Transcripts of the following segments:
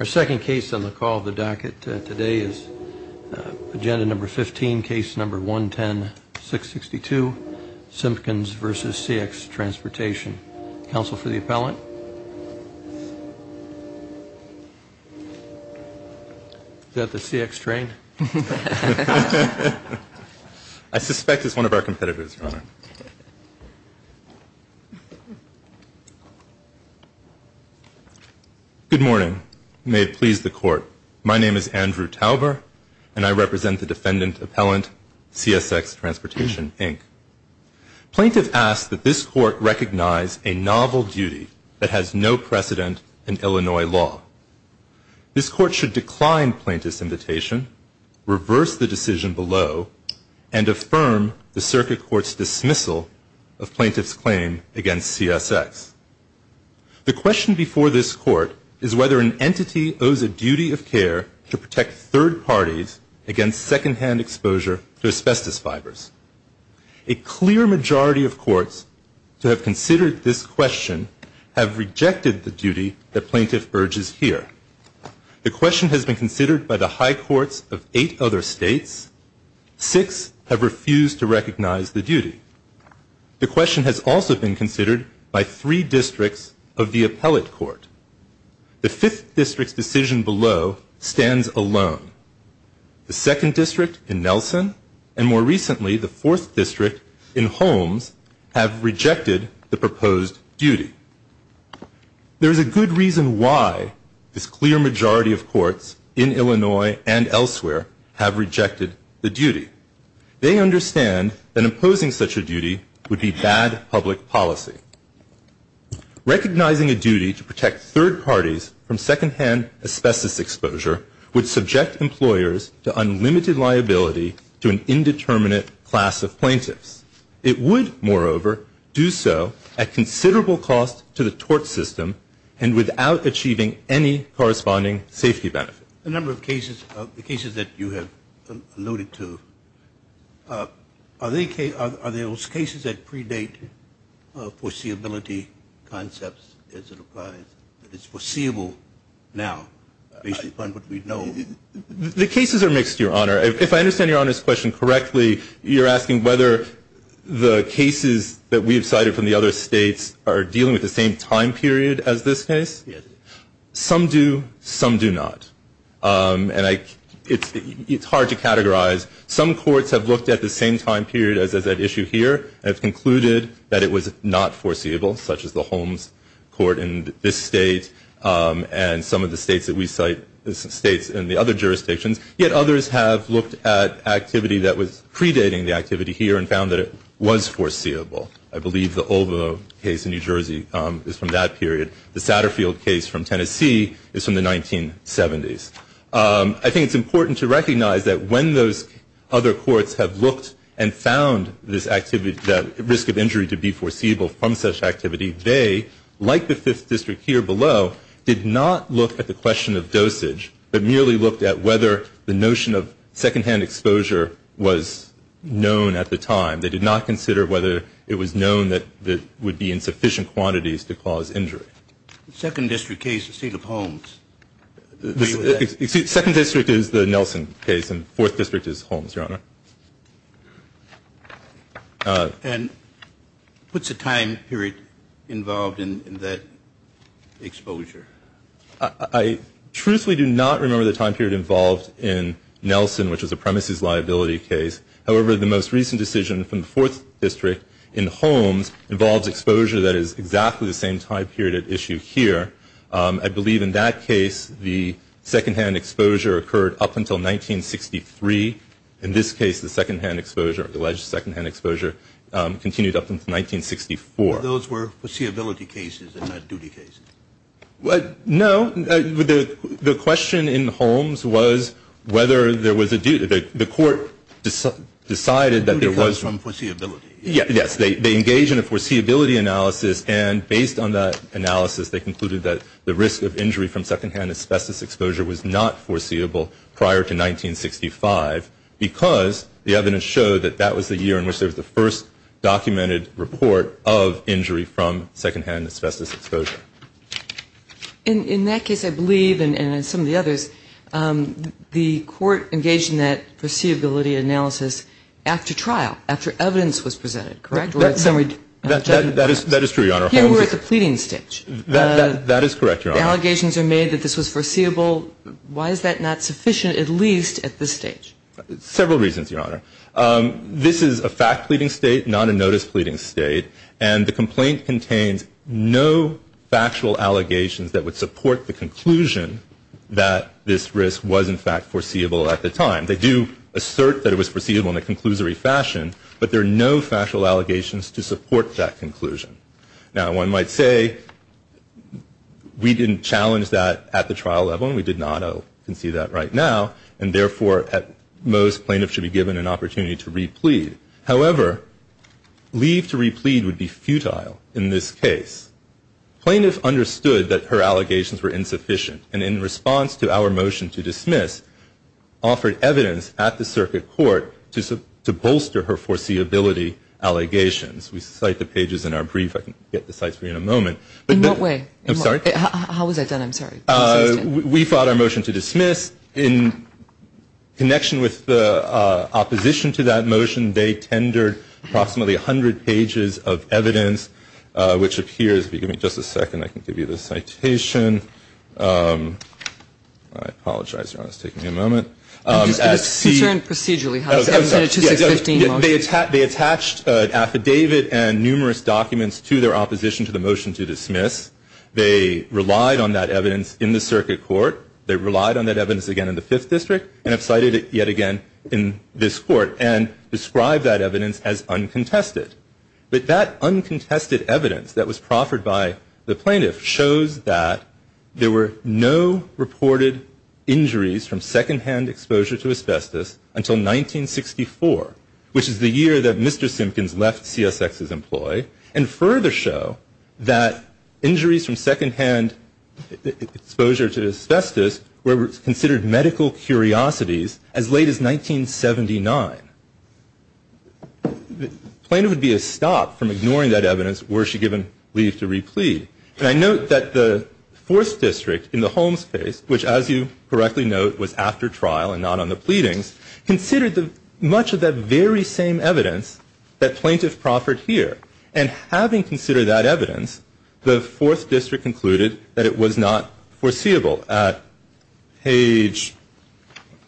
Our second case on the call of the docket today is agenda number 15, case number 110-662, Simpkins v. CX Transportation. Counsel for the appellant? Is that the CX train? I suspect it's one of our competitors, Your Honor. Good morning. May it please the court. My name is Andrew Tauber, and I represent the defendant appellant, CSX Transportation, Inc. Plaintiff asks that this court recognize a novel duty that has no precedent in Illinois law. This court should decline plaintiff's invitation, reverse the decision below, and affirm the circuit court's dismissal of plaintiff's claim against CSX. The question before this court is whether an entity owes a duty of care to protect third parties against secondhand exposure to asbestos fibers. A clear majority of courts to have considered this question have rejected the duty that plaintiff urges here. The question has been considered by the high courts of eight other states. Six have refused to recognize the duty. The question has also been considered by three districts of the appellate court. The fifth district's decision below stands alone. The second district in Nelson and more recently the fourth district in Holmes have rejected the proposed duty. There is a good reason why this clear majority of courts in Illinois and elsewhere have rejected the duty. They understand that imposing such a duty would be bad public policy. Recognizing a duty to protect third parties from secondhand asbestos exposure would subject employers to unlimited liability to an indeterminate class of plaintiffs. It would, moreover, do so at considerable cost to the tort system and without achieving any corresponding safety benefit. A number of cases, the cases that you have alluded to, are those cases that predate foreseeability concepts as it applies? It's foreseeable now based upon what we know. The cases are mixed, Your Honor. If I understand Your Honor's question correctly, you're asking whether the cases that we have cited from the other states are dealing with the same time period as this case? Yes. Some do, some do not. And it's hard to categorize. Some courts have looked at the same time period as that issue here and have concluded that it was not foreseeable, such as the Holmes court in this state and some of the states that we cite, states in the other jurisdictions. Yet others have looked at activity that was predating the activity here and found that it was foreseeable. I believe the Olvo case in New Jersey is from that period. The Satterfield case from Tennessee is from the 1970s. I think it's important to recognize that when those other courts have looked and found this activity, that risk of injury to be foreseeable from such activity, they, like the Fifth District here below, did not look at the question of dosage but merely looked at whether the notion of secondhand exposure was known at the time. They did not consider whether it was known that it would be in sufficient quantities to cause injury. The Second District case, the State of Holmes. The Second District is the Nelson case and the Fourth District is Holmes, Your Honor. And what's the time period involved in that exposure? I truthfully do not remember the time period involved in Nelson, which was a premises liability case. However, the most recent decision from the Fourth District in Holmes involves exposure that is exactly the same time period at issue here. I believe in that case the secondhand exposure occurred up until 1963. In this case, the secondhand exposure, alleged secondhand exposure, continued up until 1964. Those were foreseeability cases and not duty cases? No. The question in Holmes was whether there was a duty. The court decided that there was. Duty comes from foreseeability. Yes. They engaged in a foreseeability analysis and based on that analysis, they concluded that the risk of injury from secondhand asbestos exposure was not foreseeable prior to 1965 because the evidence showed that that was the year in which there was the first documented report of injury from secondhand asbestos exposure. In that case, I believe, and in some of the others, the court engaged in that foreseeability analysis after trial, after evidence was presented, correct? That is true, Your Honor. Here we're at the pleading stage. That is correct, Your Honor. The allegations are made that this was foreseeable. Why is that not sufficient at least at this stage? Several reasons, Your Honor. This is a fact pleading state, not a notice pleading state, and the complaint contains no factual allegations that would support the conclusion that this risk was in fact foreseeable at the time. They do assert that it was foreseeable in a conclusory fashion, but there are no factual allegations to support that conclusion. Now, one might say we didn't challenge that at the trial level, and we did not. You can see that right now. And therefore, at most, plaintiffs should be given an opportunity to re-plead. However, leave to re-plead would be futile in this case. Plaintiffs understood that her allegations were insufficient, and in response to our motion to dismiss, offered evidence at the circuit court to bolster her foreseeability allegations. We cite the pages in our brief. I can get the sites for you in a moment. In what way? I'm sorry? How was that done? I'm sorry. We fought our motion to dismiss. In connection with the opposition to that motion, they tendered approximately 100 pages of evidence, which appears, if you give me just a second, I can give you the citation. I apologize, Your Honor. It's taking me a moment. It was concerned procedurally. They attached an affidavit and numerous documents to their opposition to the motion to dismiss. They relied on that evidence in the circuit court. They relied on that evidence again in the Fifth District and have cited it yet again in this court and described that evidence as uncontested. But that uncontested evidence that was proffered by the plaintiff shows that there were no reported injuries from secondhand exposure to asbestos until 1964, which is the year that Mr. Simpkins left CSX's employee, and further show that injuries from secondhand exposure to asbestos were considered medical curiosities as late as 1979. The plaintiff would be a stop from ignoring that evidence were she given leave to replead. And I note that the Fourth District in the Holmes case, which, as you correctly note, was after trial and not on the pleadings, considered much of that very same evidence that plaintiff proffered here. And having considered that evidence, the Fourth District concluded that it was not foreseeable. At page,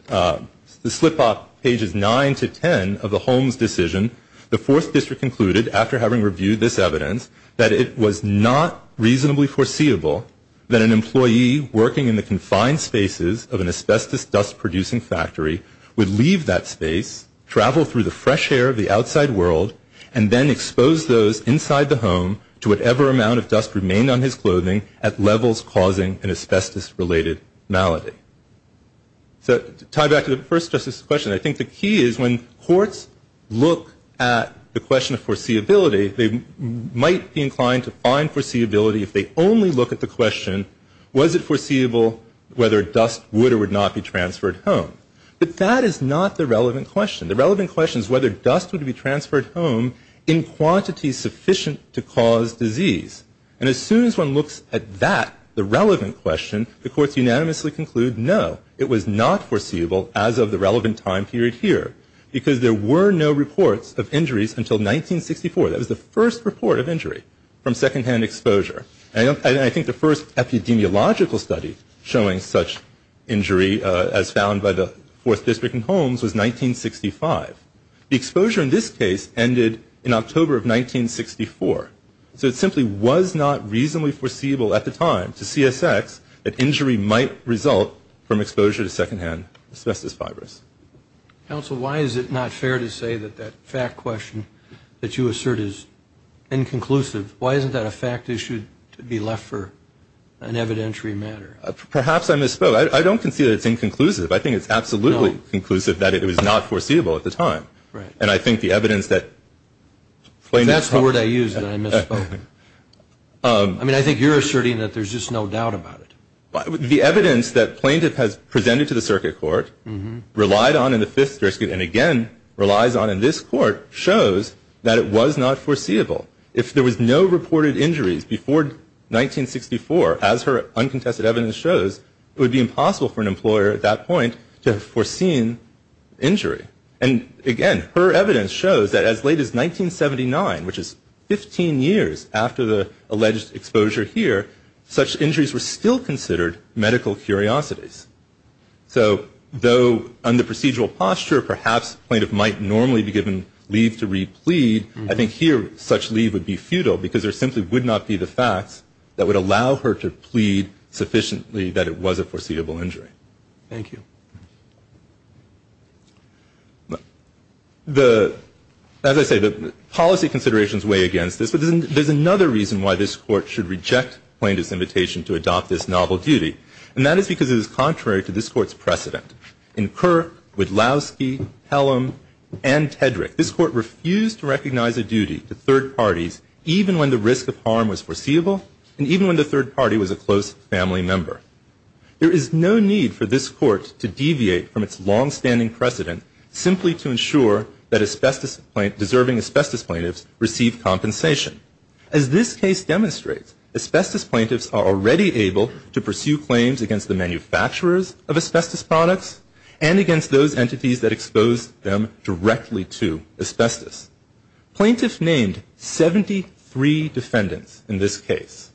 the slip-off pages 9 to 10 of the Holmes decision, the Fourth District concluded, after having reviewed this evidence, that it was not reasonably foreseeable that an employee working in the confined spaces of an asbestos dust-producing factory would leave that space, travel through the fresh air of the outside world, and then expose those inside the home to whatever amount of dust remained on his clothing at levels causing an asbestos-related malady. So to tie back to the first Justice's question, I think the key is when courts look at the question of foreseeability, they might be inclined to find foreseeability if they only look at the question, was it foreseeable whether dust would or would not be transferred home? But that is not the relevant question. The relevant question is whether dust would be transferred home in quantities sufficient to cause disease. And as soon as one looks at that, the relevant question, the courts unanimously conclude no, it was not foreseeable as of the relevant time period here, because there were no reports of injuries until 1964. That was the first report of injury from secondhand exposure. And I think the first epidemiological study showing such injury as found by the Fourth District in Holmes was 1965. The exposure in this case ended in October of 1964. So it simply was not reasonably foreseeable at the time to CSX that injury might result from exposure to secondhand asbestos fibers. Counsel, why is it not fair to say that that fact question that you assert is inconclusive? Why isn't that a fact issue to be left for an evidentiary matter? Perhaps I misspoke. I don't concede that it's inconclusive. I think it's absolutely conclusive that it was not foreseeable at the time. Right. And I think the evidence that – If that's the word I use, then I misspoke. I mean, I think you're asserting that there's just no doubt about it. The evidence that plaintiff has presented to the circuit court, relied on in the Fifth District, and again relies on in this court, shows that it was not foreseeable. If there was no reported injuries before 1964, as her uncontested evidence shows, it would be impossible for an employer at that point to have foreseen injury. And again, her evidence shows that as late as 1979, which is 15 years after the alleged exposure here, such injuries were still considered medical curiosities. So though under procedural posture, perhaps plaintiff might normally be given leave to re-plead, I think here such leave would be futile because there simply would not be the facts that would allow her to plead sufficiently that it was a foreseeable injury. All right. Thank you. The – as I say, the policy considerations weigh against this, but there's another reason why this Court should reject plaintiff's invitation to adopt this novel duty, and that is because it is contrary to this Court's precedent. In Kirk, Widlowski, Hellam, and Tedrick, this Court refused to recognize a duty to third parties even when the risk of harm was foreseeable and even when the third party was a close family member. There is no need for this Court to deviate from its longstanding precedent simply to ensure that asbestos – deserving asbestos plaintiffs receive compensation. As this case demonstrates, asbestos plaintiffs are already able to pursue claims against the manufacturers of asbestos products and against those entities that expose them directly to asbestos. Plaintiff named 73 defendants in this case.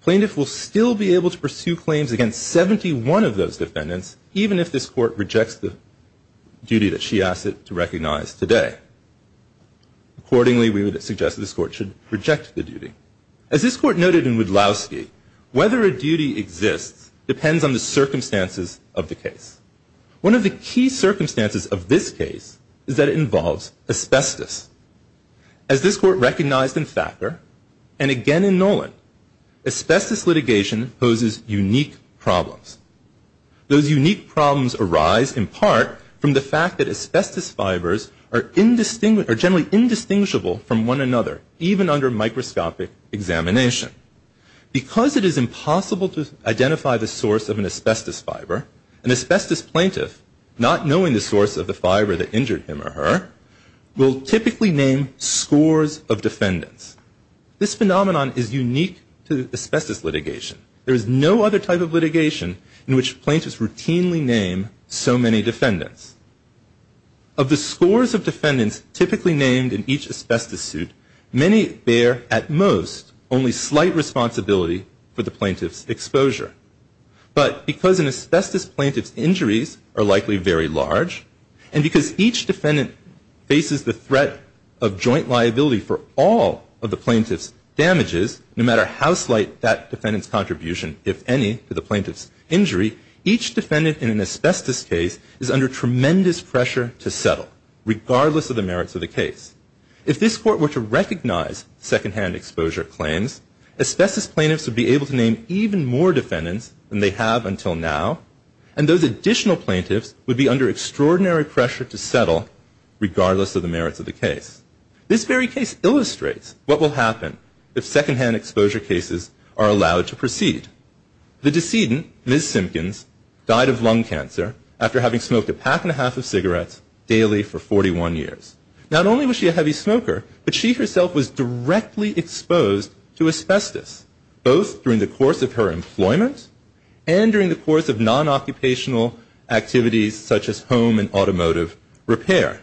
Plaintiff will still be able to pursue claims against 71 of those defendants even if this Court rejects the duty that she asked it to recognize today. Accordingly, we would suggest that this Court should reject the duty. As this Court noted in Widlowski, whether a duty exists depends on the circumstances of the case. One of the key circumstances of this case is that it involves asbestos. As this Court recognized in Thacker and again in Nolan, asbestos litigation poses unique problems. Those unique problems arise in part from the fact that asbestos fibers are generally indistinguishable from one another even under microscopic examination. Because it is impossible to identify the source of an asbestos fiber, an asbestos plaintiff, not knowing the source of the fiber that injured him or her, will typically name scores of defendants. This phenomenon is unique to asbestos litigation. There is no other type of litigation in which plaintiffs routinely name so many defendants. Of the scores of defendants typically named in each asbestos suit, many bear at most only slight responsibility for the plaintiff's exposure. But because an asbestos plaintiff's injuries are likely very large and because each defendant faces the threat of joint liability for all of the plaintiff's damages, no matter how slight that defendant's contribution, if any, to the plaintiff's injury, each defendant in an asbestos case is under tremendous pressure to settle, regardless of the merits of the case. If this Court were to recognize secondhand exposure claims, asbestos plaintiffs would be able to name even more defendants than they have until now, and those additional plaintiffs would be under extraordinary pressure to settle, regardless of the merits of the case. This very case illustrates what will happen if secondhand exposure cases are allowed to proceed. The decedent, Ms. Simpkins, died of lung cancer after having smoked a pack and a half of cigarettes daily for 41 years. Not only was she a heavy smoker, but she herself was directly exposed to asbestos, both during the course of her employment and during the course of non-occupational activities such as home and automotive repair.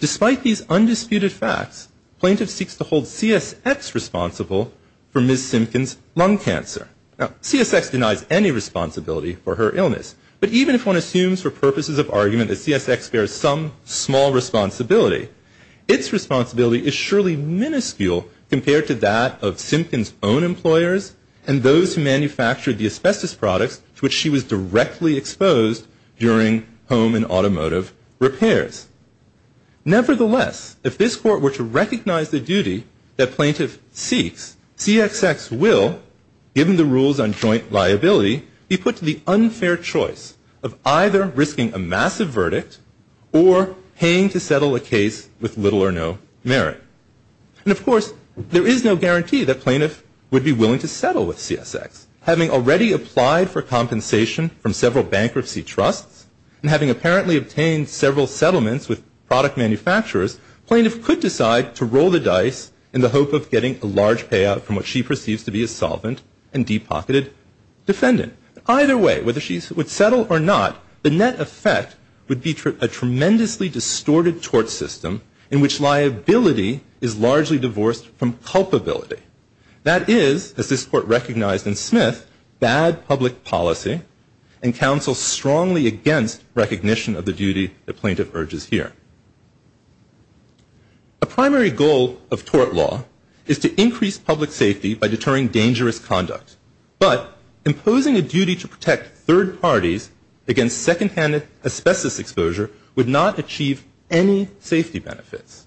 Despite these undisputed facts, plaintiff seeks to hold CSX responsible for Ms. Simpkins' lung cancer. Now, CSX denies any responsibility for her illness, but even if one assumes for purposes of argument that CSX bears some small responsibility, its responsibility is surely minuscule compared to that of Simpkins' own employers and those who manufactured the asbestos products to which she was directly exposed during home and automotive repairs. Nevertheless, if this Court were to recognize the duty that plaintiff seeks, CSX will, given the rules on joint liability, be put to the unfair choice of either risking a massive verdict or paying to settle a case with little or no merit. And, of course, there is no guarantee that plaintiff would be willing to settle with CSX. Having already applied for compensation from several bankruptcy trusts and having apparently obtained several settlements with product manufacturers, plaintiff could decide to roll the dice in the hope of getting a large payout from what she perceives to be a solvent and deep-pocketed defendant. Either way, whether she would settle or not, the net effect would be a tremendously distorted tort system in which liability is largely divorced from culpability. That is, as this Court recognized in Smith, bad public policy and counsels strongly against recognition of the duty the plaintiff urges here. A primary goal of tort law is to increase public safety by deterring dangerous conduct, but imposing a duty to protect third parties against second-hand asbestos exposure would not achieve any safety benefits.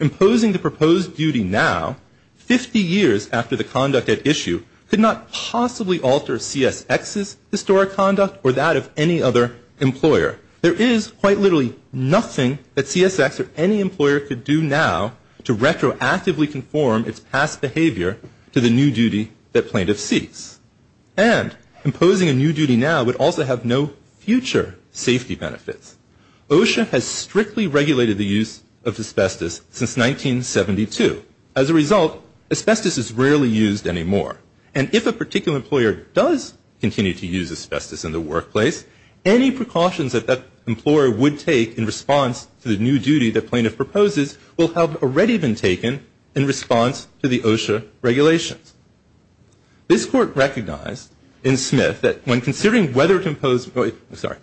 Imposing the proposed duty now, 50 years after the conduct at issue, could not possibly alter CSX's historic conduct or that of any other employer. There is quite literally nothing that CSX or any employer could do now to retroactively conform its past behavior to the new duty that plaintiff seeks. And imposing a new duty now would also have no future safety benefits. OSHA has strictly regulated the use of asbestos since 1972. As a result, asbestos is rarely used anymore. And if a particular employer does continue to use asbestos in the workplace, any precautions that that employer would take in response to the new duty that plaintiff proposes will have already been taken in response to the OSHA regulations. This Court recognized in Smith that when considering whether to impose, sorry,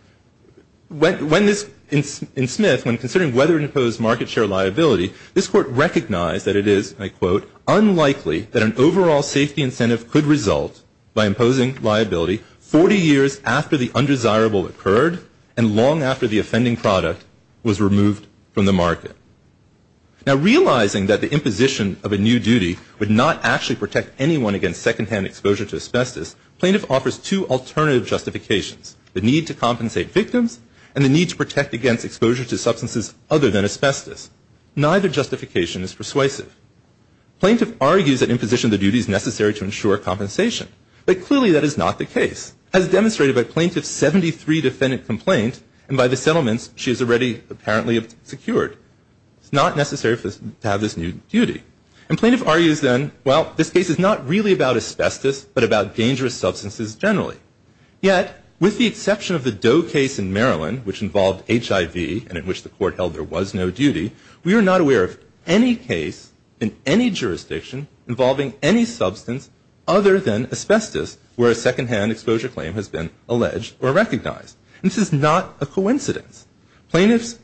when this, in Smith, when considering whether to impose market share liability, this Court recognized that it is, I quote, unlikely that an overall safety incentive could result by imposing liability 40 years after the undesirable occurred and long after the offending product was removed from the market. Now, realizing that the imposition of a new duty would not actually protect anyone against secondhand exposure to asbestos, plaintiff offers two alternative justifications, the need to compensate victims and the need to protect against exposure to substances other than asbestos. Neither justification is persuasive. Plaintiff argues that imposition of the duty is necessary to ensure compensation, but clearly that is not the case. As demonstrated by Plaintiff's 73 defendant complaint, and by the settlements she has already apparently secured, it's not necessary to have this new duty. And plaintiff argues then, well, this case is not really about asbestos, but about dangerous substances generally. Yet, with the exception of the Doe case in Maryland, which involved HIV and in which the Court held there was no duty, we are not aware of any case in any jurisdiction involving any substance other than asbestos where a secondhand exposure claim has been alleged or recognized. This is not a coincidence. Plaintiffs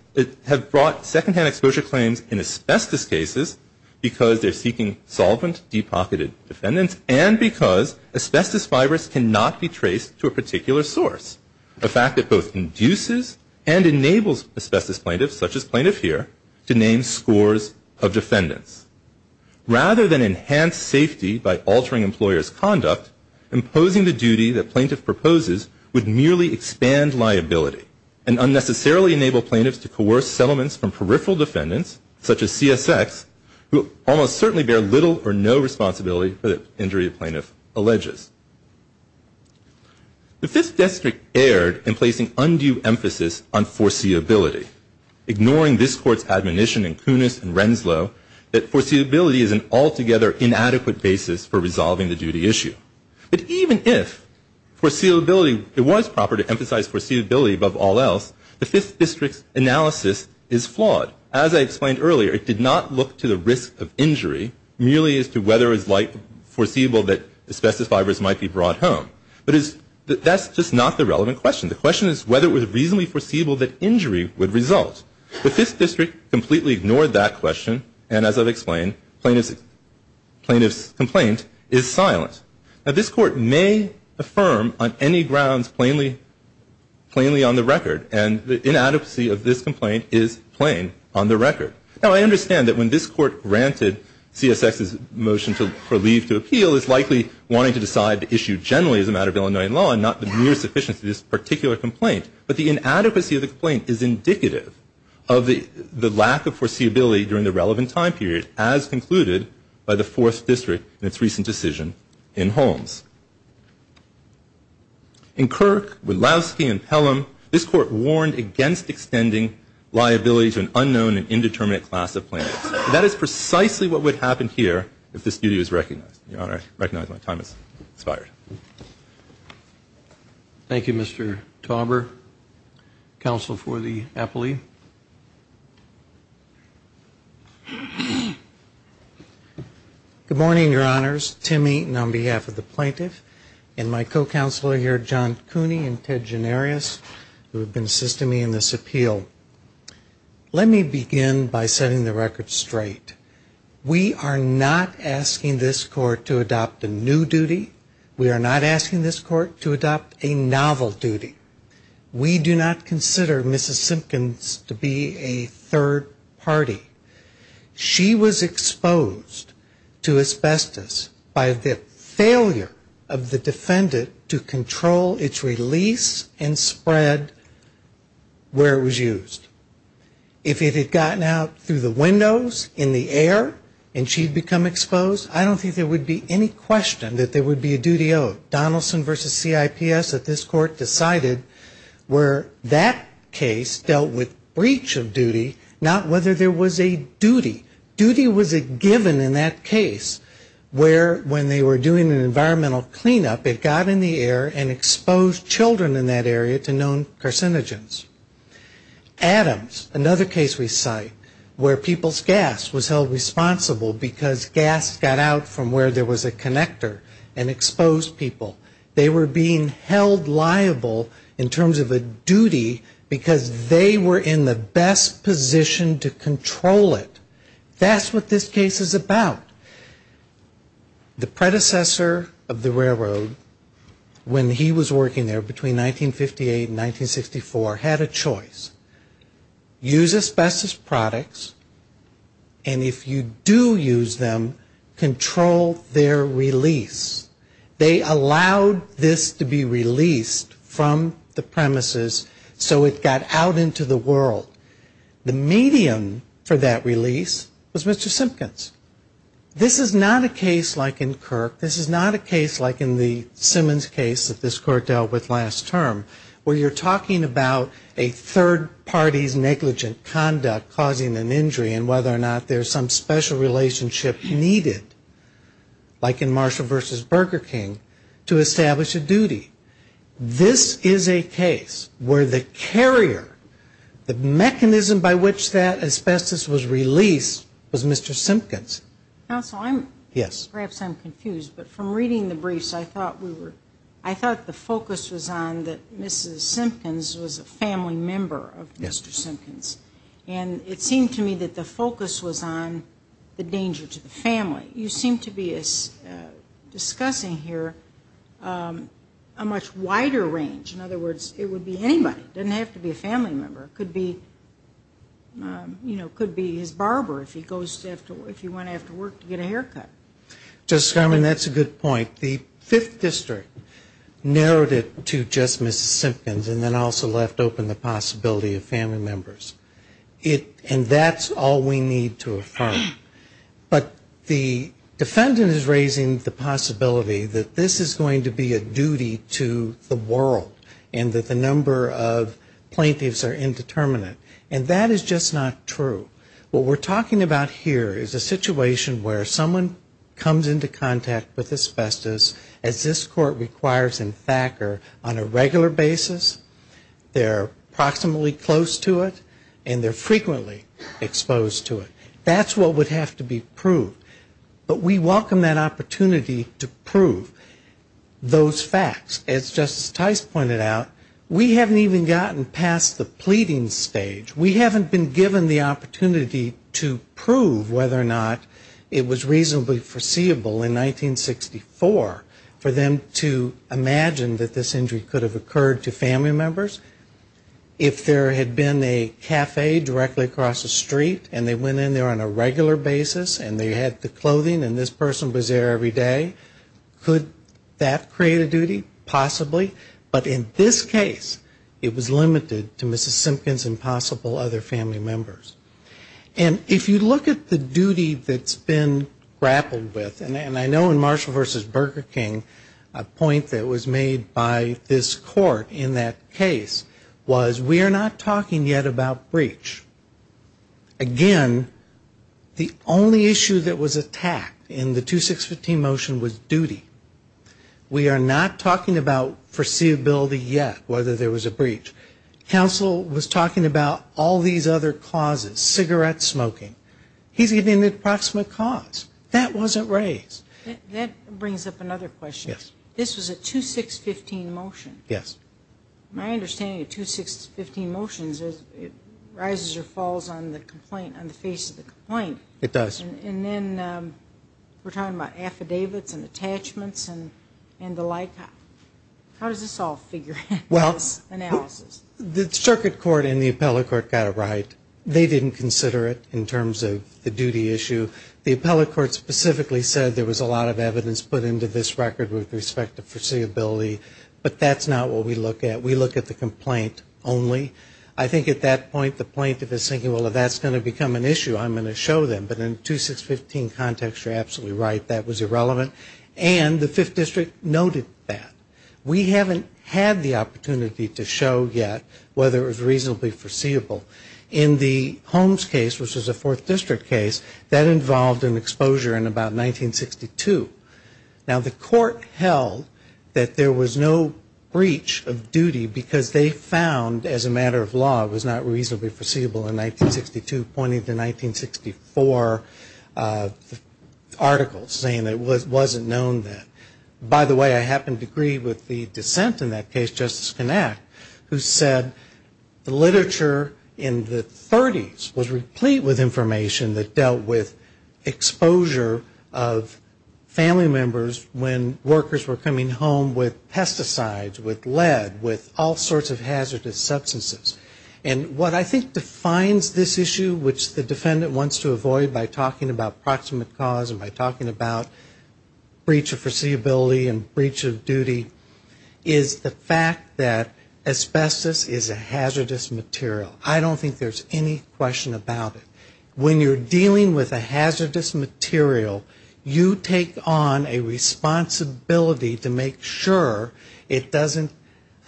have brought secondhand exposure claims in asbestos cases because they are seeking solvent depocketed defendants and because asbestos fibers cannot be traced to a particular source. The fact that both induces and enables asbestos plaintiffs, such as plaintiff here, to name scores of defendants. Rather than enhance safety by altering employer's conduct, imposing the duty that plaintiff proposes would merely expand liability and unnecessarily enable plaintiffs to coerce settlements from peripheral defendants, such as CSX, who almost certainly bear little or no responsibility for the injury a plaintiff alleges. The Fifth District erred in placing undue emphasis on foreseeability, ignoring this Court's admonition in Kunis and Renslow that foreseeability is an altogether inadequate basis for resolving the duty issue. But even if foreseeability, it was proper to emphasize foreseeability above all else, the Fifth District's analysis is flawed. As I explained earlier, it did not look to the risk of injury, merely as to whether it was foreseeable that asbestos fibers might be brought home. But that's just not the relevant question. The question is whether it was reasonably foreseeable that injury would result. The Fifth District completely ignored that question, and as I've explained, plaintiff's complaint is silent. Now, this Court may affirm on any grounds plainly on the record, and the inadequacy of this complaint is plain on the record. Now, I understand that when this Court granted CSX's motion for leave to appeal, it's likely wanting to decide the issue generally as a matter of Illinois law and not the mere sufficiency of this particular complaint. But the inadequacy of the complaint is indicative of the lack of foreseeability during the relevant time period, as concluded by the Fourth District in its recent decision in Holmes. In Kirk, Widlowski, and Pelham, this Court warned against extending liability to an unknown and indeterminate class of plaintiffs. That is precisely what would happen here if this duty was recognized. Your Honor, I recognize my time has expired. Thank you, Mr. Tauber, Counsel for the Appellee. Good morning, Your Honors, Timmy, and on behalf of the plaintiff, and my co-counselor here, John Cooney and Ted Gennarius, who have been assisting me in this appeal. Let me begin by setting the record straight. We are not asking this Court to adopt a new duty. We are not asking this Court to adopt a novel duty. We do not consider Mrs. Simpkins to be a third party. She was exposed to asbestos by the failure of the defendant to control its release and spread where it was used. If it had gotten out through the windows, in the air, and she had become exposed, I don't think there would be any question that there would be a duty owed. Donaldson v. CIPS at this Court decided where that case dealt with breach of duty, not whether there was a duty. Duty was a given in that case where when they were doing an environmental cleanup, it got in the air and exposed children in that area to known carcinogens. Adams, another case we cite, where people's gas was held responsible because gas got out from where there was a connector and exposed people. They were being held liable in terms of a duty because they were in the best position to control it. That's what this case is about. The predecessor of the railroad, when he was working there between 1958 and 1964, had a choice. Use asbestos products, and if you do use them, control their release. They allowed this to be released from the premises so it got out into the world. The medium for that release was Mr. Simpkins. This is not a case like in Kirk. This is not a case like in the Simmons case that this Court dealt with last term where you're talking about a third party's negligent conduct causing an injury and whether or not there's some special relationship needed, like in Marshall v. Burger King, to establish a duty. This is a case where the carrier, the mechanism by which that asbestos was released, was Mr. Simpkins. Counsel, perhaps I'm confused, but from reading the briefs, I thought the focus was on that Mrs. Simpkins was a family member of Mr. Simpkins, and it seemed to me that the focus was on the danger to the family. You seem to be discussing here a much wider range. In other words, it would be anybody. It doesn't have to be a family member. It could be his barber if he went after work to get a haircut. Justice Garland, that's a good point. The Fifth District narrowed it to just Mrs. Simpkins and then also left open the possibility of family members. And that's all we need to affirm. But the defendant is raising the possibility that this is going to be a duty to the world and that the number of plaintiffs are indeterminate. And that is just not true. What we're talking about here is a situation where someone comes into contact with asbestos, as this Court requires in Thacker, on a regular basis, they're approximately close to it, and they're frequently exposed to it. That's what would have to be proved. But we welcome that opportunity to prove those facts. As Justice Tice pointed out, we haven't even gotten past the pleading stage. We haven't been given the opportunity to prove whether or not it was reasonably foreseeable in 1964 for them to imagine that this injury could have occurred to family members. If there had been a cafe directly across the street and they went in there on a regular basis and they had the clothing and this person was there every day, could that create a duty? Possibly. But in this case, it was limited to Mrs. Simpkins and possible other family members. And if you look at the duty that's been grappled with, and I know in Marshall v. Burger King, a point that was made by this Court in that case was we are not talking yet about breach. Again, the only issue that was attacked in the 2615 motion was duty. We are not talking about foreseeability yet, whether there was a breach. Counsel was talking about all these other causes, cigarette smoking. He's giving the approximate cause. That wasn't raised. That brings up another question. Yes. This was a 2615 motion. Yes. My understanding of 2615 motions is it rises or falls on the complaint, on the face of the complaint. It does. And then we're talking about affidavits and attachments and the like. How does this all figure out in this analysis? Well, the circuit court and the appellate court got it right. They didn't consider it in terms of the duty issue. The appellate court specifically said there was a lot of evidence put into this record with respect to foreseeability. But that's not what we look at. We look at the complaint only. I think at that point the plaintiff is thinking, well, if that's going to become an issue, I'm going to show them. But in a 2615 context, you're absolutely right. That was irrelevant. And the 5th District noted that. We haven't had the opportunity to show yet whether it was reasonably foreseeable. In the Holmes case, which was a 4th District case, that involved an exposure in about 1962. Now, the court held that there was no breach of duty because they found, as a matter of law, it was not reasonably foreseeable in 1962, pointing to 1964 articles saying it wasn't known that. By the way, I happen to agree with the dissent in that case, Justice Knapp, who said the literature in the 30s was replete with information that dealt with exposure of family members when workers were coming home with pesticides, with lead, with all sorts of hazardous substances. And what I think defines this issue, which the defendant wants to avoid by talking about proximate cause and by talking about breach of foreseeability and breach of duty, is the fact that asbestos is a hazardous material. I don't think there's any question about it. When you're dealing with a hazardous material, you take on a responsibility to make sure it doesn't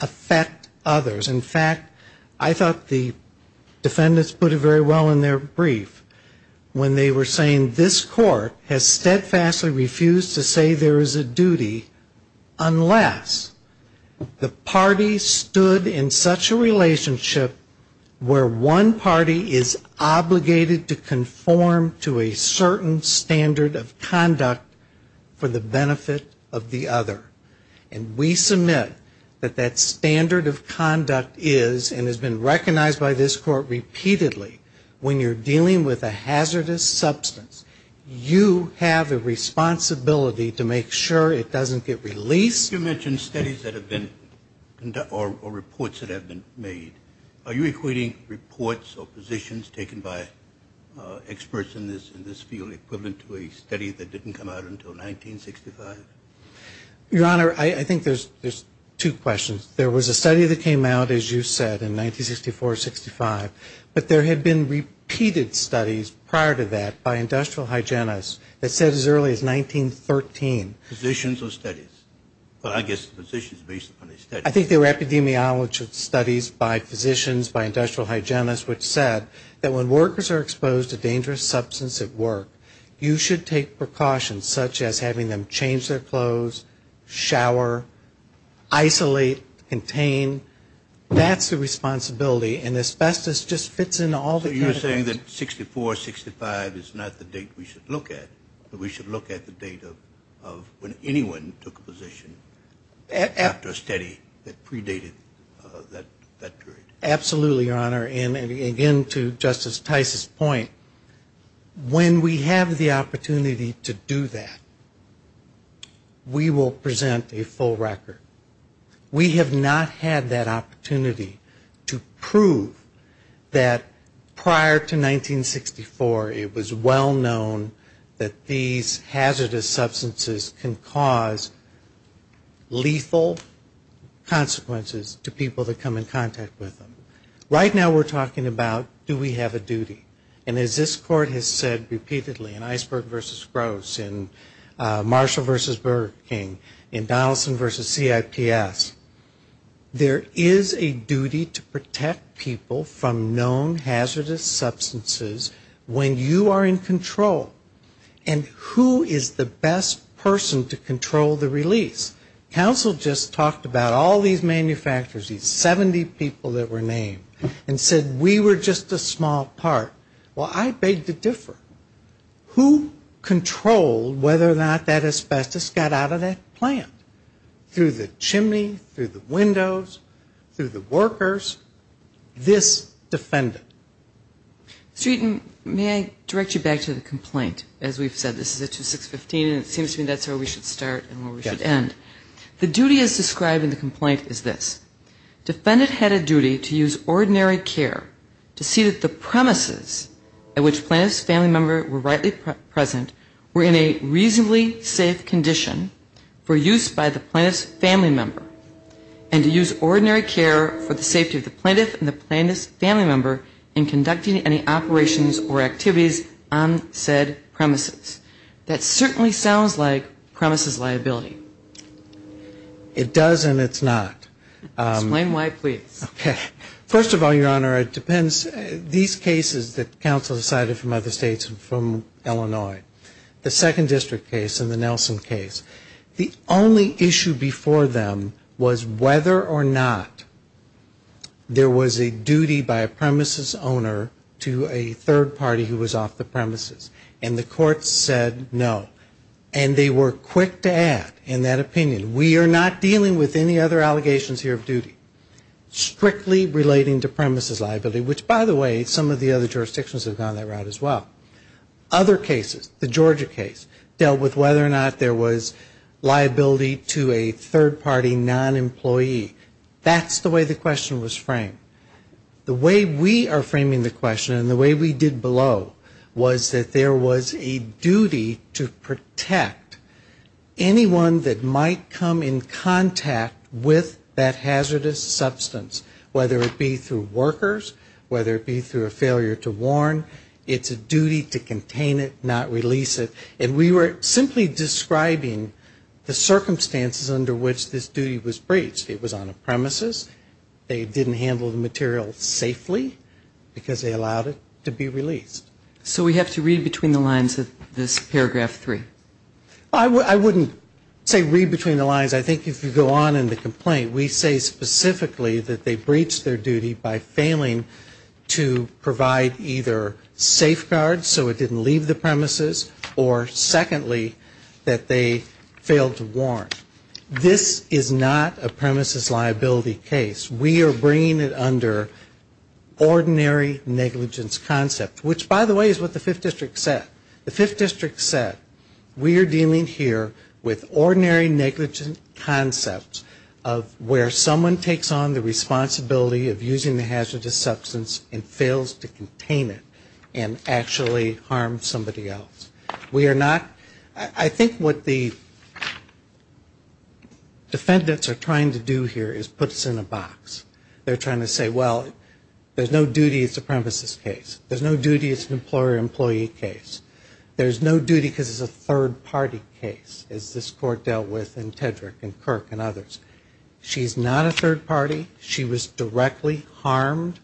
affect others. In fact, I thought the defendants put it very well in their brief when they were saying, this court has steadfastly refused to say there is a duty unless the party stood in such a relationship where one party is obligated to conform to a certain standard of conduct for the benefit of the other. And we submit that that standard of conduct is and has been recognized by this court repeatedly, when you're dealing with a hazardous substance, you have a responsibility to make sure it doesn't get released. You mentioned studies that have been or reports that have been made. Are you equating reports or positions taken by experts in this field equivalent to a study that didn't come out until 1965? Your Honor, I think there's two questions. There was a study that came out, as you said, in 1964-65, but there had been repeated studies prior to that by industrial hygienists that said as early as 1913. Positions or studies? Well, I guess positions based upon the studies. I think they were epidemiology studies by physicians, by industrial hygienists, which said that when workers are exposed to dangerous substance at work, you should take precautions such as having them change their clothes, shower, isolate, contain. That's the responsibility, and asbestos just fits in all the categories. So you're saying that 1964-65 is not the date we should look at, but we should look at the date of when anyone took a position after a study that predated that period. Absolutely, Your Honor, and again to Justice Tice's point, when we have the opportunity to do that, we will present a full record. We have not had that opportunity to prove that prior to 1964, it was well known that these hazardous substances can cause lethal consequences to people that come in contact with them. Right now we're talking about do we have a duty, and as this Court has said repeatedly, in Iceberg v. Gross, in Marshall v. Burger King, in Donaldson v. CIPS, there is a duty to protect people from known hazardous substances when you are in control. And who is the best person to control the release? Counsel just talked about all these manufacturers, these 70 people that were named, and said we were just a small part. Well, I beg to differ. Who controlled whether or not that asbestos got out of that plant? Through the chimney, through the windows, through the workers? This defendant. Mr. Eaton, may I direct you back to the complaint? As we've said, this is at 2615, and it seems to me that's where we should start and where we should end. The duty as described in the complaint is this. Defendant had a duty to use ordinary care to see that the premises at which plaintiff's family member were rightly present were in a reasonably safe condition for use by the plaintiff's family member, and to use ordinary care for the safety of the plaintiff and the plaintiff's family member in conducting any operations or activities on said premises. That certainly sounds like premises liability. It does and it's not. Explain why, please. First of all, Your Honor, it depends. These cases that counsel decided from other states and from Illinois, the second district case and the Nelson case, the only issue before them was whether or not there was a duty by a premises owner to a third party who was off the premises. And the court said no. And they were quick to add in that opinion, we are not dealing with any other allegations here of duty. Strictly relating to premises liability, which by the way, some of the other jurisdictions have gone that route as well. Other cases, the Georgia case, dealt with whether or not there was liability to a third party non-employee. That's the way the question was framed. The way we are framing the question and the way we did below was that there was a duty to protect anyone that might come in contact with that hazardous substance, whether it be through workers, whether it be through a failure to warn. It's a duty to contain it, not release it. And we were simply describing the circumstances under which this duty was breached. It was on a premises, they didn't handle the material safely because they allowed it to be released. So we have to read between the lines of this paragraph three. I wouldn't say read between the lines. I think if you go on in the complaint, we say specifically that they breached their duty by failing to provide either safeguards so it didn't leave the premises or secondly, that they failed to warn. This is not a premises liability case. We are bringing it under ordinary negligence concept, which by the way is what the Fifth District said. The Fifth District said we are dealing here with ordinary negligence concepts of where someone takes on the responsibility of using the hazardous substance and fails to contain it and actually harm somebody else. We are not, I think what the defendants are trying to do here is put us in a box. They're trying to say, well, there's no duty, it's a premises case. There's no duty, it's an employer-employee case. There's no duty because it's a third party case, as this court dealt with in Tedrick and Kirk and others. She's not a third party. She was directly harmed.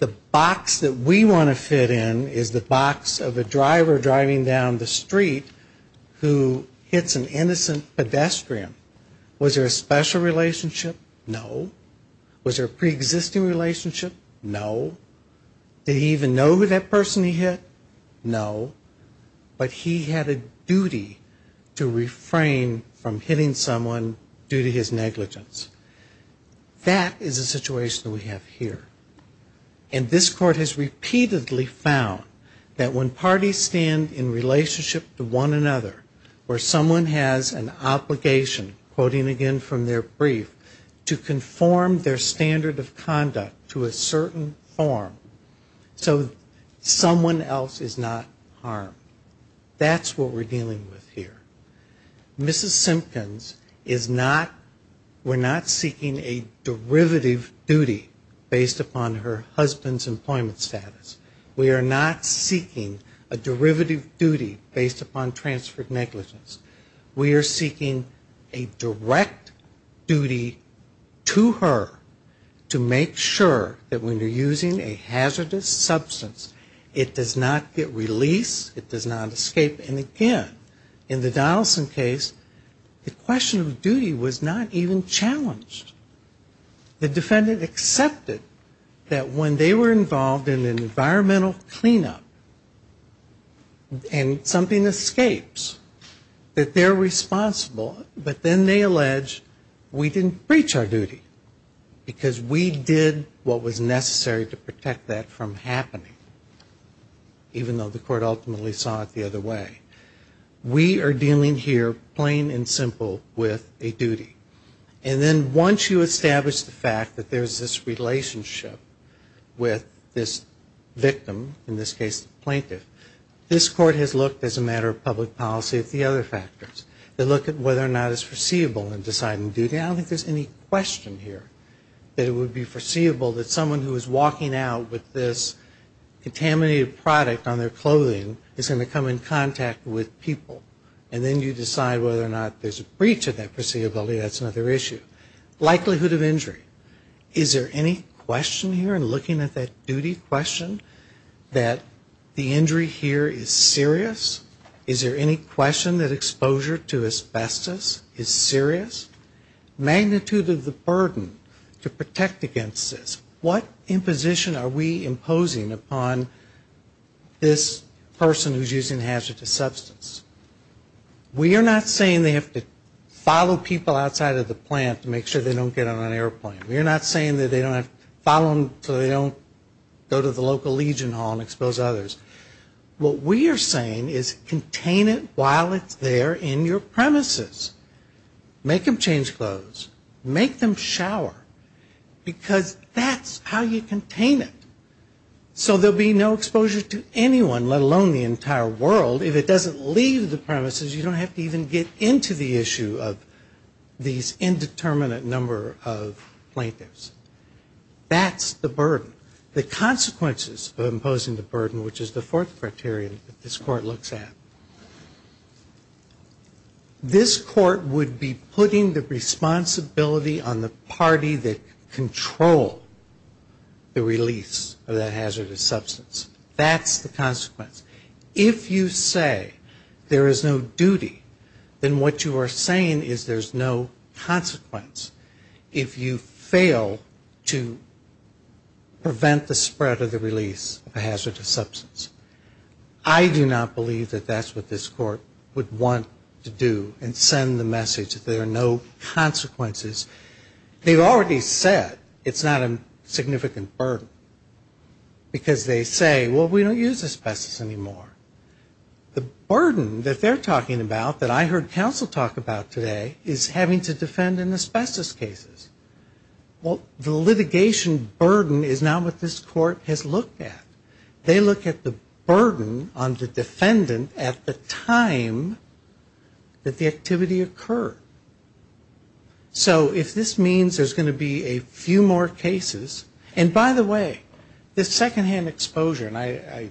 The box that we want to fit in is the box of a driver driving down the street who hits an innocent pedestrian. Was there a special relationship? No. Was there a preexisting relationship? No. Did he even know who that person he hit? No. But he had a duty to refrain from hitting someone due to his negligence. That is a situation that we have here. And this court has repeatedly found that when parties stand in relationship to one another where someone has an obligation, quoting again from their brief, to conform their standard of conduct to a certain form, so someone else is not harmed. That's what we're dealing with here. Mrs. Simpkins is not, we're not seeking a derivative duty based upon her husband's employment status. We are not seeking a derivative duty based upon transferred negligence. We are seeking a direct duty to her to make sure that when you're using a hazardous substance, it does not get released it does not escape, and again, in the Donaldson case, the question of duty was not even challenged. The defendant accepted that when they were involved in an environmental cleanup and something escapes, that they're responsible, but then they allege we didn't breach our duty because we did what was necessary to protect that from somebody who saw it the other way. We are dealing here, plain and simple, with a duty. And then once you establish the fact that there's this relationship with this victim, in this case the plaintiff, this court has looked, as a matter of public policy, at the other factors. They look at whether or not it's foreseeable in deciding duty, and I don't think there's any question here that it would be contaminated product on their clothing is going to come in contact with people. And then you decide whether or not there's a breach of that foreseeability, that's another issue. Likelihood of injury. Is there any question here in looking at that duty question that the injury here is serious? Is there any question that exposure to asbestos is serious? Magnitude of the burden to protect against this. What imposition are we imposing upon this person who's using hazardous substance? We are not saying they have to follow people outside of the plant to make sure they don't get on an airplane. We are not saying that they don't have to follow them so they don't go to the local legion hall and expose others. What we are saying is contain it while it's there in your premises. Make them change clothes. Make them shower. Because that's how you contain it. So there will be no exposure to anyone, let alone the entire world. If it doesn't leave the premises, you don't have to even get into the issue of these indeterminate number of plaintiffs. That's the burden. The consequences of imposing the burden, which is the fourth criteria that this court looks at. This court would be putting the responsibility on the party that control the release of that hazardous substance. That's the consequence. If you say there is no duty, then what you are saying is there's no consequence if you fail to prevent the spread of the release of a hazardous substance. I do not believe that that's what this court would want to do and send the message that there are no consequences. They've already said it's not a significant burden. Because they say, well, we don't use asbestos anymore. The burden that they're talking about that I heard counsel talk about today is having to defend in asbestos cases. Well, the litigation burden is not what this court has looked at. They look at the burden on the defendant at the time that the activity occurred. So if this means there's going to be a few more cases. And by the way, this secondhand exposure, and I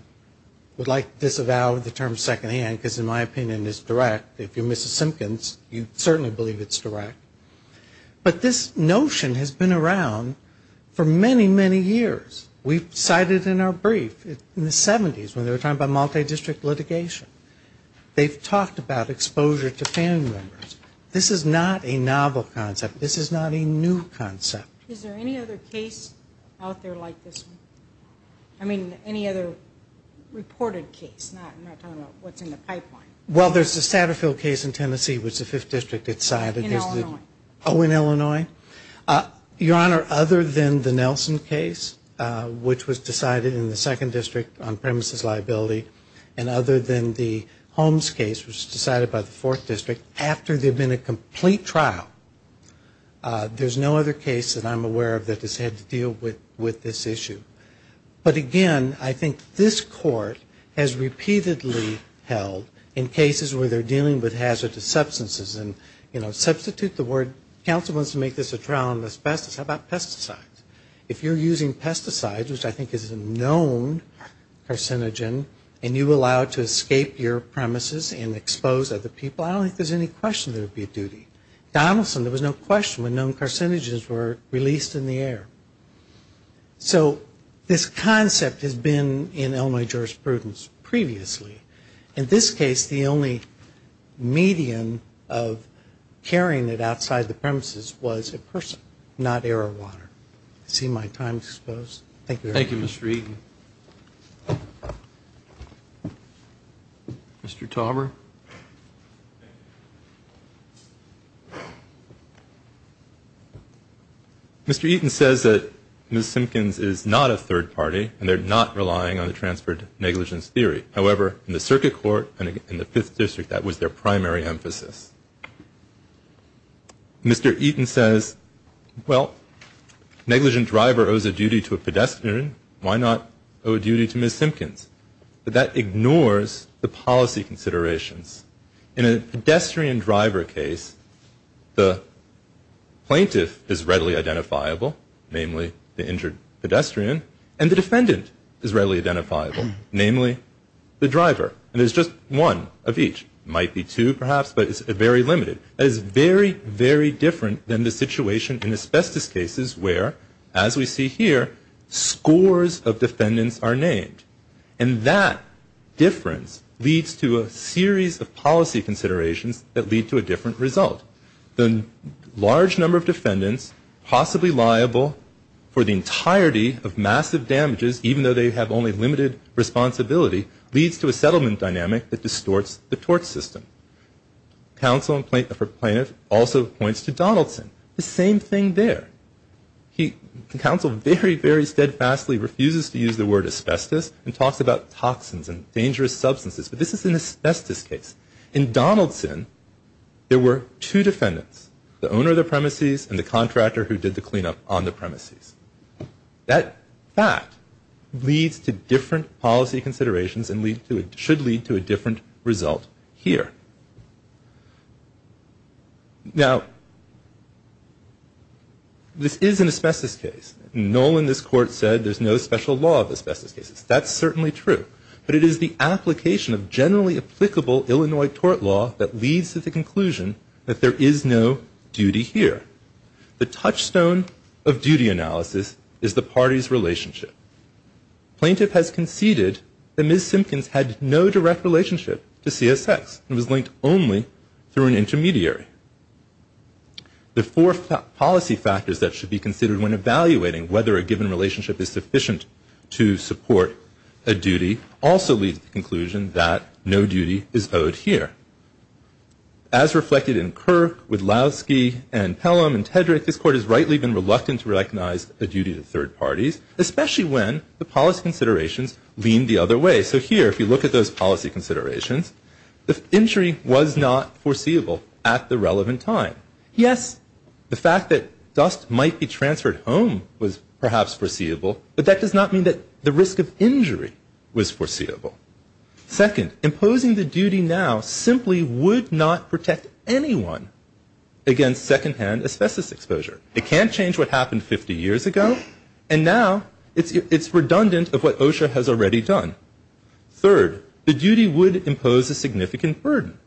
would like to disavow the term secondhand, because in my opinion it's direct. If you're Mrs. Simpkins, you certainly believe it's direct. But this notion has been around for many, many years. We've cited in our brief in the 70s when they were talking about multi-district litigation. They've talked about exposure to family members. This is not a novel concept. This is not a new concept. Is there any other case out there like this one? I mean, any other reported case? Not talking about what's in the pipeline. Well, there's the Satterfield case in Tennessee, which the 5th District had cited. In Illinois. Oh, in Illinois. Your Honor, other than the Nelson case, which was decided in the 2nd District on premises liability, and other than the Holmes case, which was decided by the 4th District after there had been a complete trial, there's no other case that I'm aware of that has had to deal with this issue. But again, I think this Court has repeatedly held in cases where they're dealing with hazardous substances and, you know, substitute the word, counsel wants to make this a trial on asbestos, how about pesticides? If you're using pesticides, which I think is a known carcinogen, and you allow it to escape your premises and expose other people, I don't think there's any question there would be a duty. Donaldson, there was no question when known carcinogens were released in the air. So this concept has been in Illinois jurisprudence previously. In this case, the only median of carrying it outside the premises was a person, not air or water. I see my time's exposed. Thank you. Thank you, Mr. Eaton. Mr. Tauber. Thank you. Mr. Eaton says that Ms. Simpkins is not a third party and they're not relying on the transferred negligence theory. However, in the Circuit Court and in the 5th District, that was their primary emphasis. Mr. Eaton says, well, negligent driver owes a duty to a pedestrian, why not owe a duty to Ms. Simpkins? But that ignores the policy considerations. In a pedestrian driver case, the plaintiff is readily identifiable, namely the injured pedestrian, and the defendant is readily identifiable, namely the driver. And there's just one of each. It might be two, perhaps, but it's very limited. That is very, very different than the situation in asbestos cases where, as we see here, scores of defendants are named. And that difference leads to a series of policy considerations that lead to a different result. The large number of defendants possibly liable for the entirety of massive damages, even though they have only limited responsibility, leads to a settlement dynamic that distorts the tort system. Counsel for plaintiff also points to Donaldson. The same thing there. Counsel very, very steadfastly refuses to use the word asbestos and talks about toxins and dangerous substances. But this is an asbestos case. In Donaldson, there were two defendants, the owner of the premises and the contractor who did the cleanup on the premises. That fact leads to different policy considerations and should lead to a different result here. Now, this is an asbestos case. Nolan, this court, said there's no special law of asbestos cases. That's certainly true. But it is the application of generally applicable Illinois tort law that leads to the conclusion that there is no duty here. The touchstone of duty analysis is the party's relationship. Plaintiff has conceded that Ms. Simpkins had no direct relationship to CSX and was linked only through an intermediary. The four policy factors that should be considered when evaluating whether a given relationship is sufficient to support a duty also leads to the conclusion that no duty is owed here. As reflected in Kirk, Widlowski, and Pelham and Tedrick, this court has rightly been reluctant to recognize a duty to third parties, especially when the policy considerations lean the other way. So here, if you look at those policy considerations, the injury was not foreseeable at the relevant time. Yes, the fact that dust might be transferred home was perhaps foreseeable, but that does not mean that the risk of injury was foreseeable. Second, imposing the duty now simply would not protect anyone against secondhand asbestos exposure. It can't change what happened 50 years ago, and now it's redundant of what OSHA has already done. Third, the duty would impose a significant burden.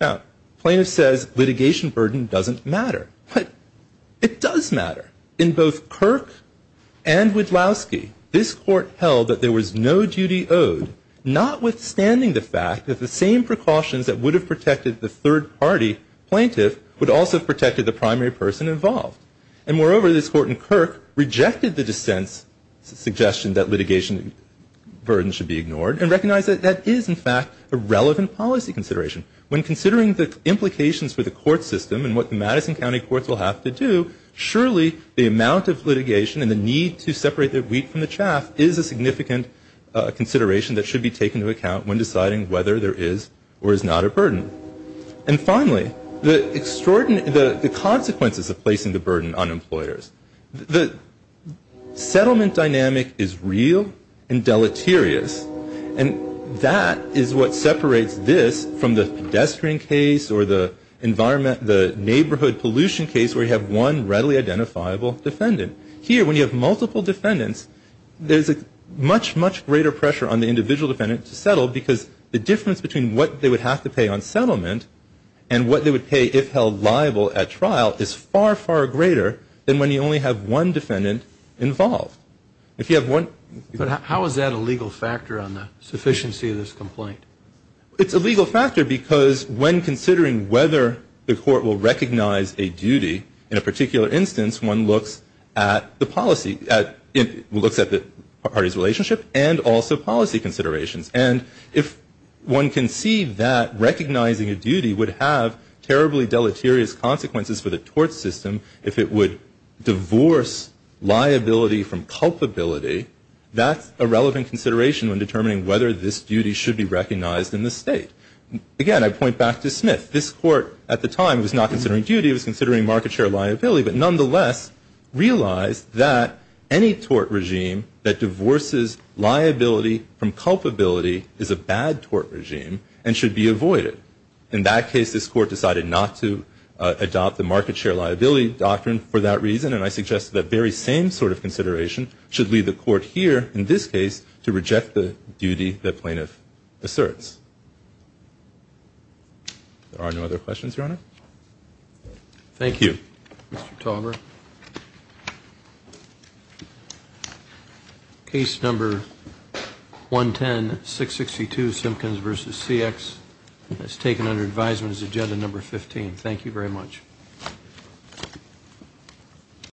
Now, plaintiff says litigation burden doesn't matter, but it does matter. In both Kirk and Widlowski, this court held that there was no duty owed, notwithstanding the fact that the same precautions that would have protected the third party plaintiff would also have protected the primary person involved. And moreover, this court in Kirk rejected the dissent's suggestion that litigation burden should be ignored and recognized that that is, in fact, a relevant policy consideration. When considering the implications for the court system and what the Madison County Courts will have to do, surely the amount of litigation and the need to separate the wheat from the chaff is a significant consideration that should be taken into account when deciding whether there is or is not a burden. And finally, the consequences of placing the burden on employers. The settlement dynamic is real and deleterious, and that is what separates this from the pedestrian case or the neighborhood pollution case where you have one readily identifiable defendant. Here, when you have multiple defendants, there's a much, much greater pressure on the individual defendant to settle because the difference between what they would have to pay on settlement and what they would pay if held liable at trial is far, far greater than when you only have one defendant involved. But how is that a legal factor on the sufficiency of this complaint? It's a legal factor because when considering whether the court will recognize a duty, in a particular instance, one looks at the party's relationship and also policy considerations. And if one can see that recognizing a duty would have terribly deleterious consequences for the tort system if it would divorce liability from culpability, that's a relevant consideration when determining whether this duty should be recognized in the state. Again, I point back to Smith. This court at the time was not considering duty, it was considering market share liability, but nonetheless realized that any tort regime that divorces liability from culpability is a bad tort regime and should be avoided. In that case, this court decided not to adopt the market share liability doctrine for that reason and I suggest that very same sort of consideration should leave the court here, in this case, to reject the duty the plaintiff asserts. There are no other questions, Your Honor? Thank you, Mr. Tolbert. Case number 110-662, Simpkins v. CX, is taken under advisement as agenda number 15. Thank you very much.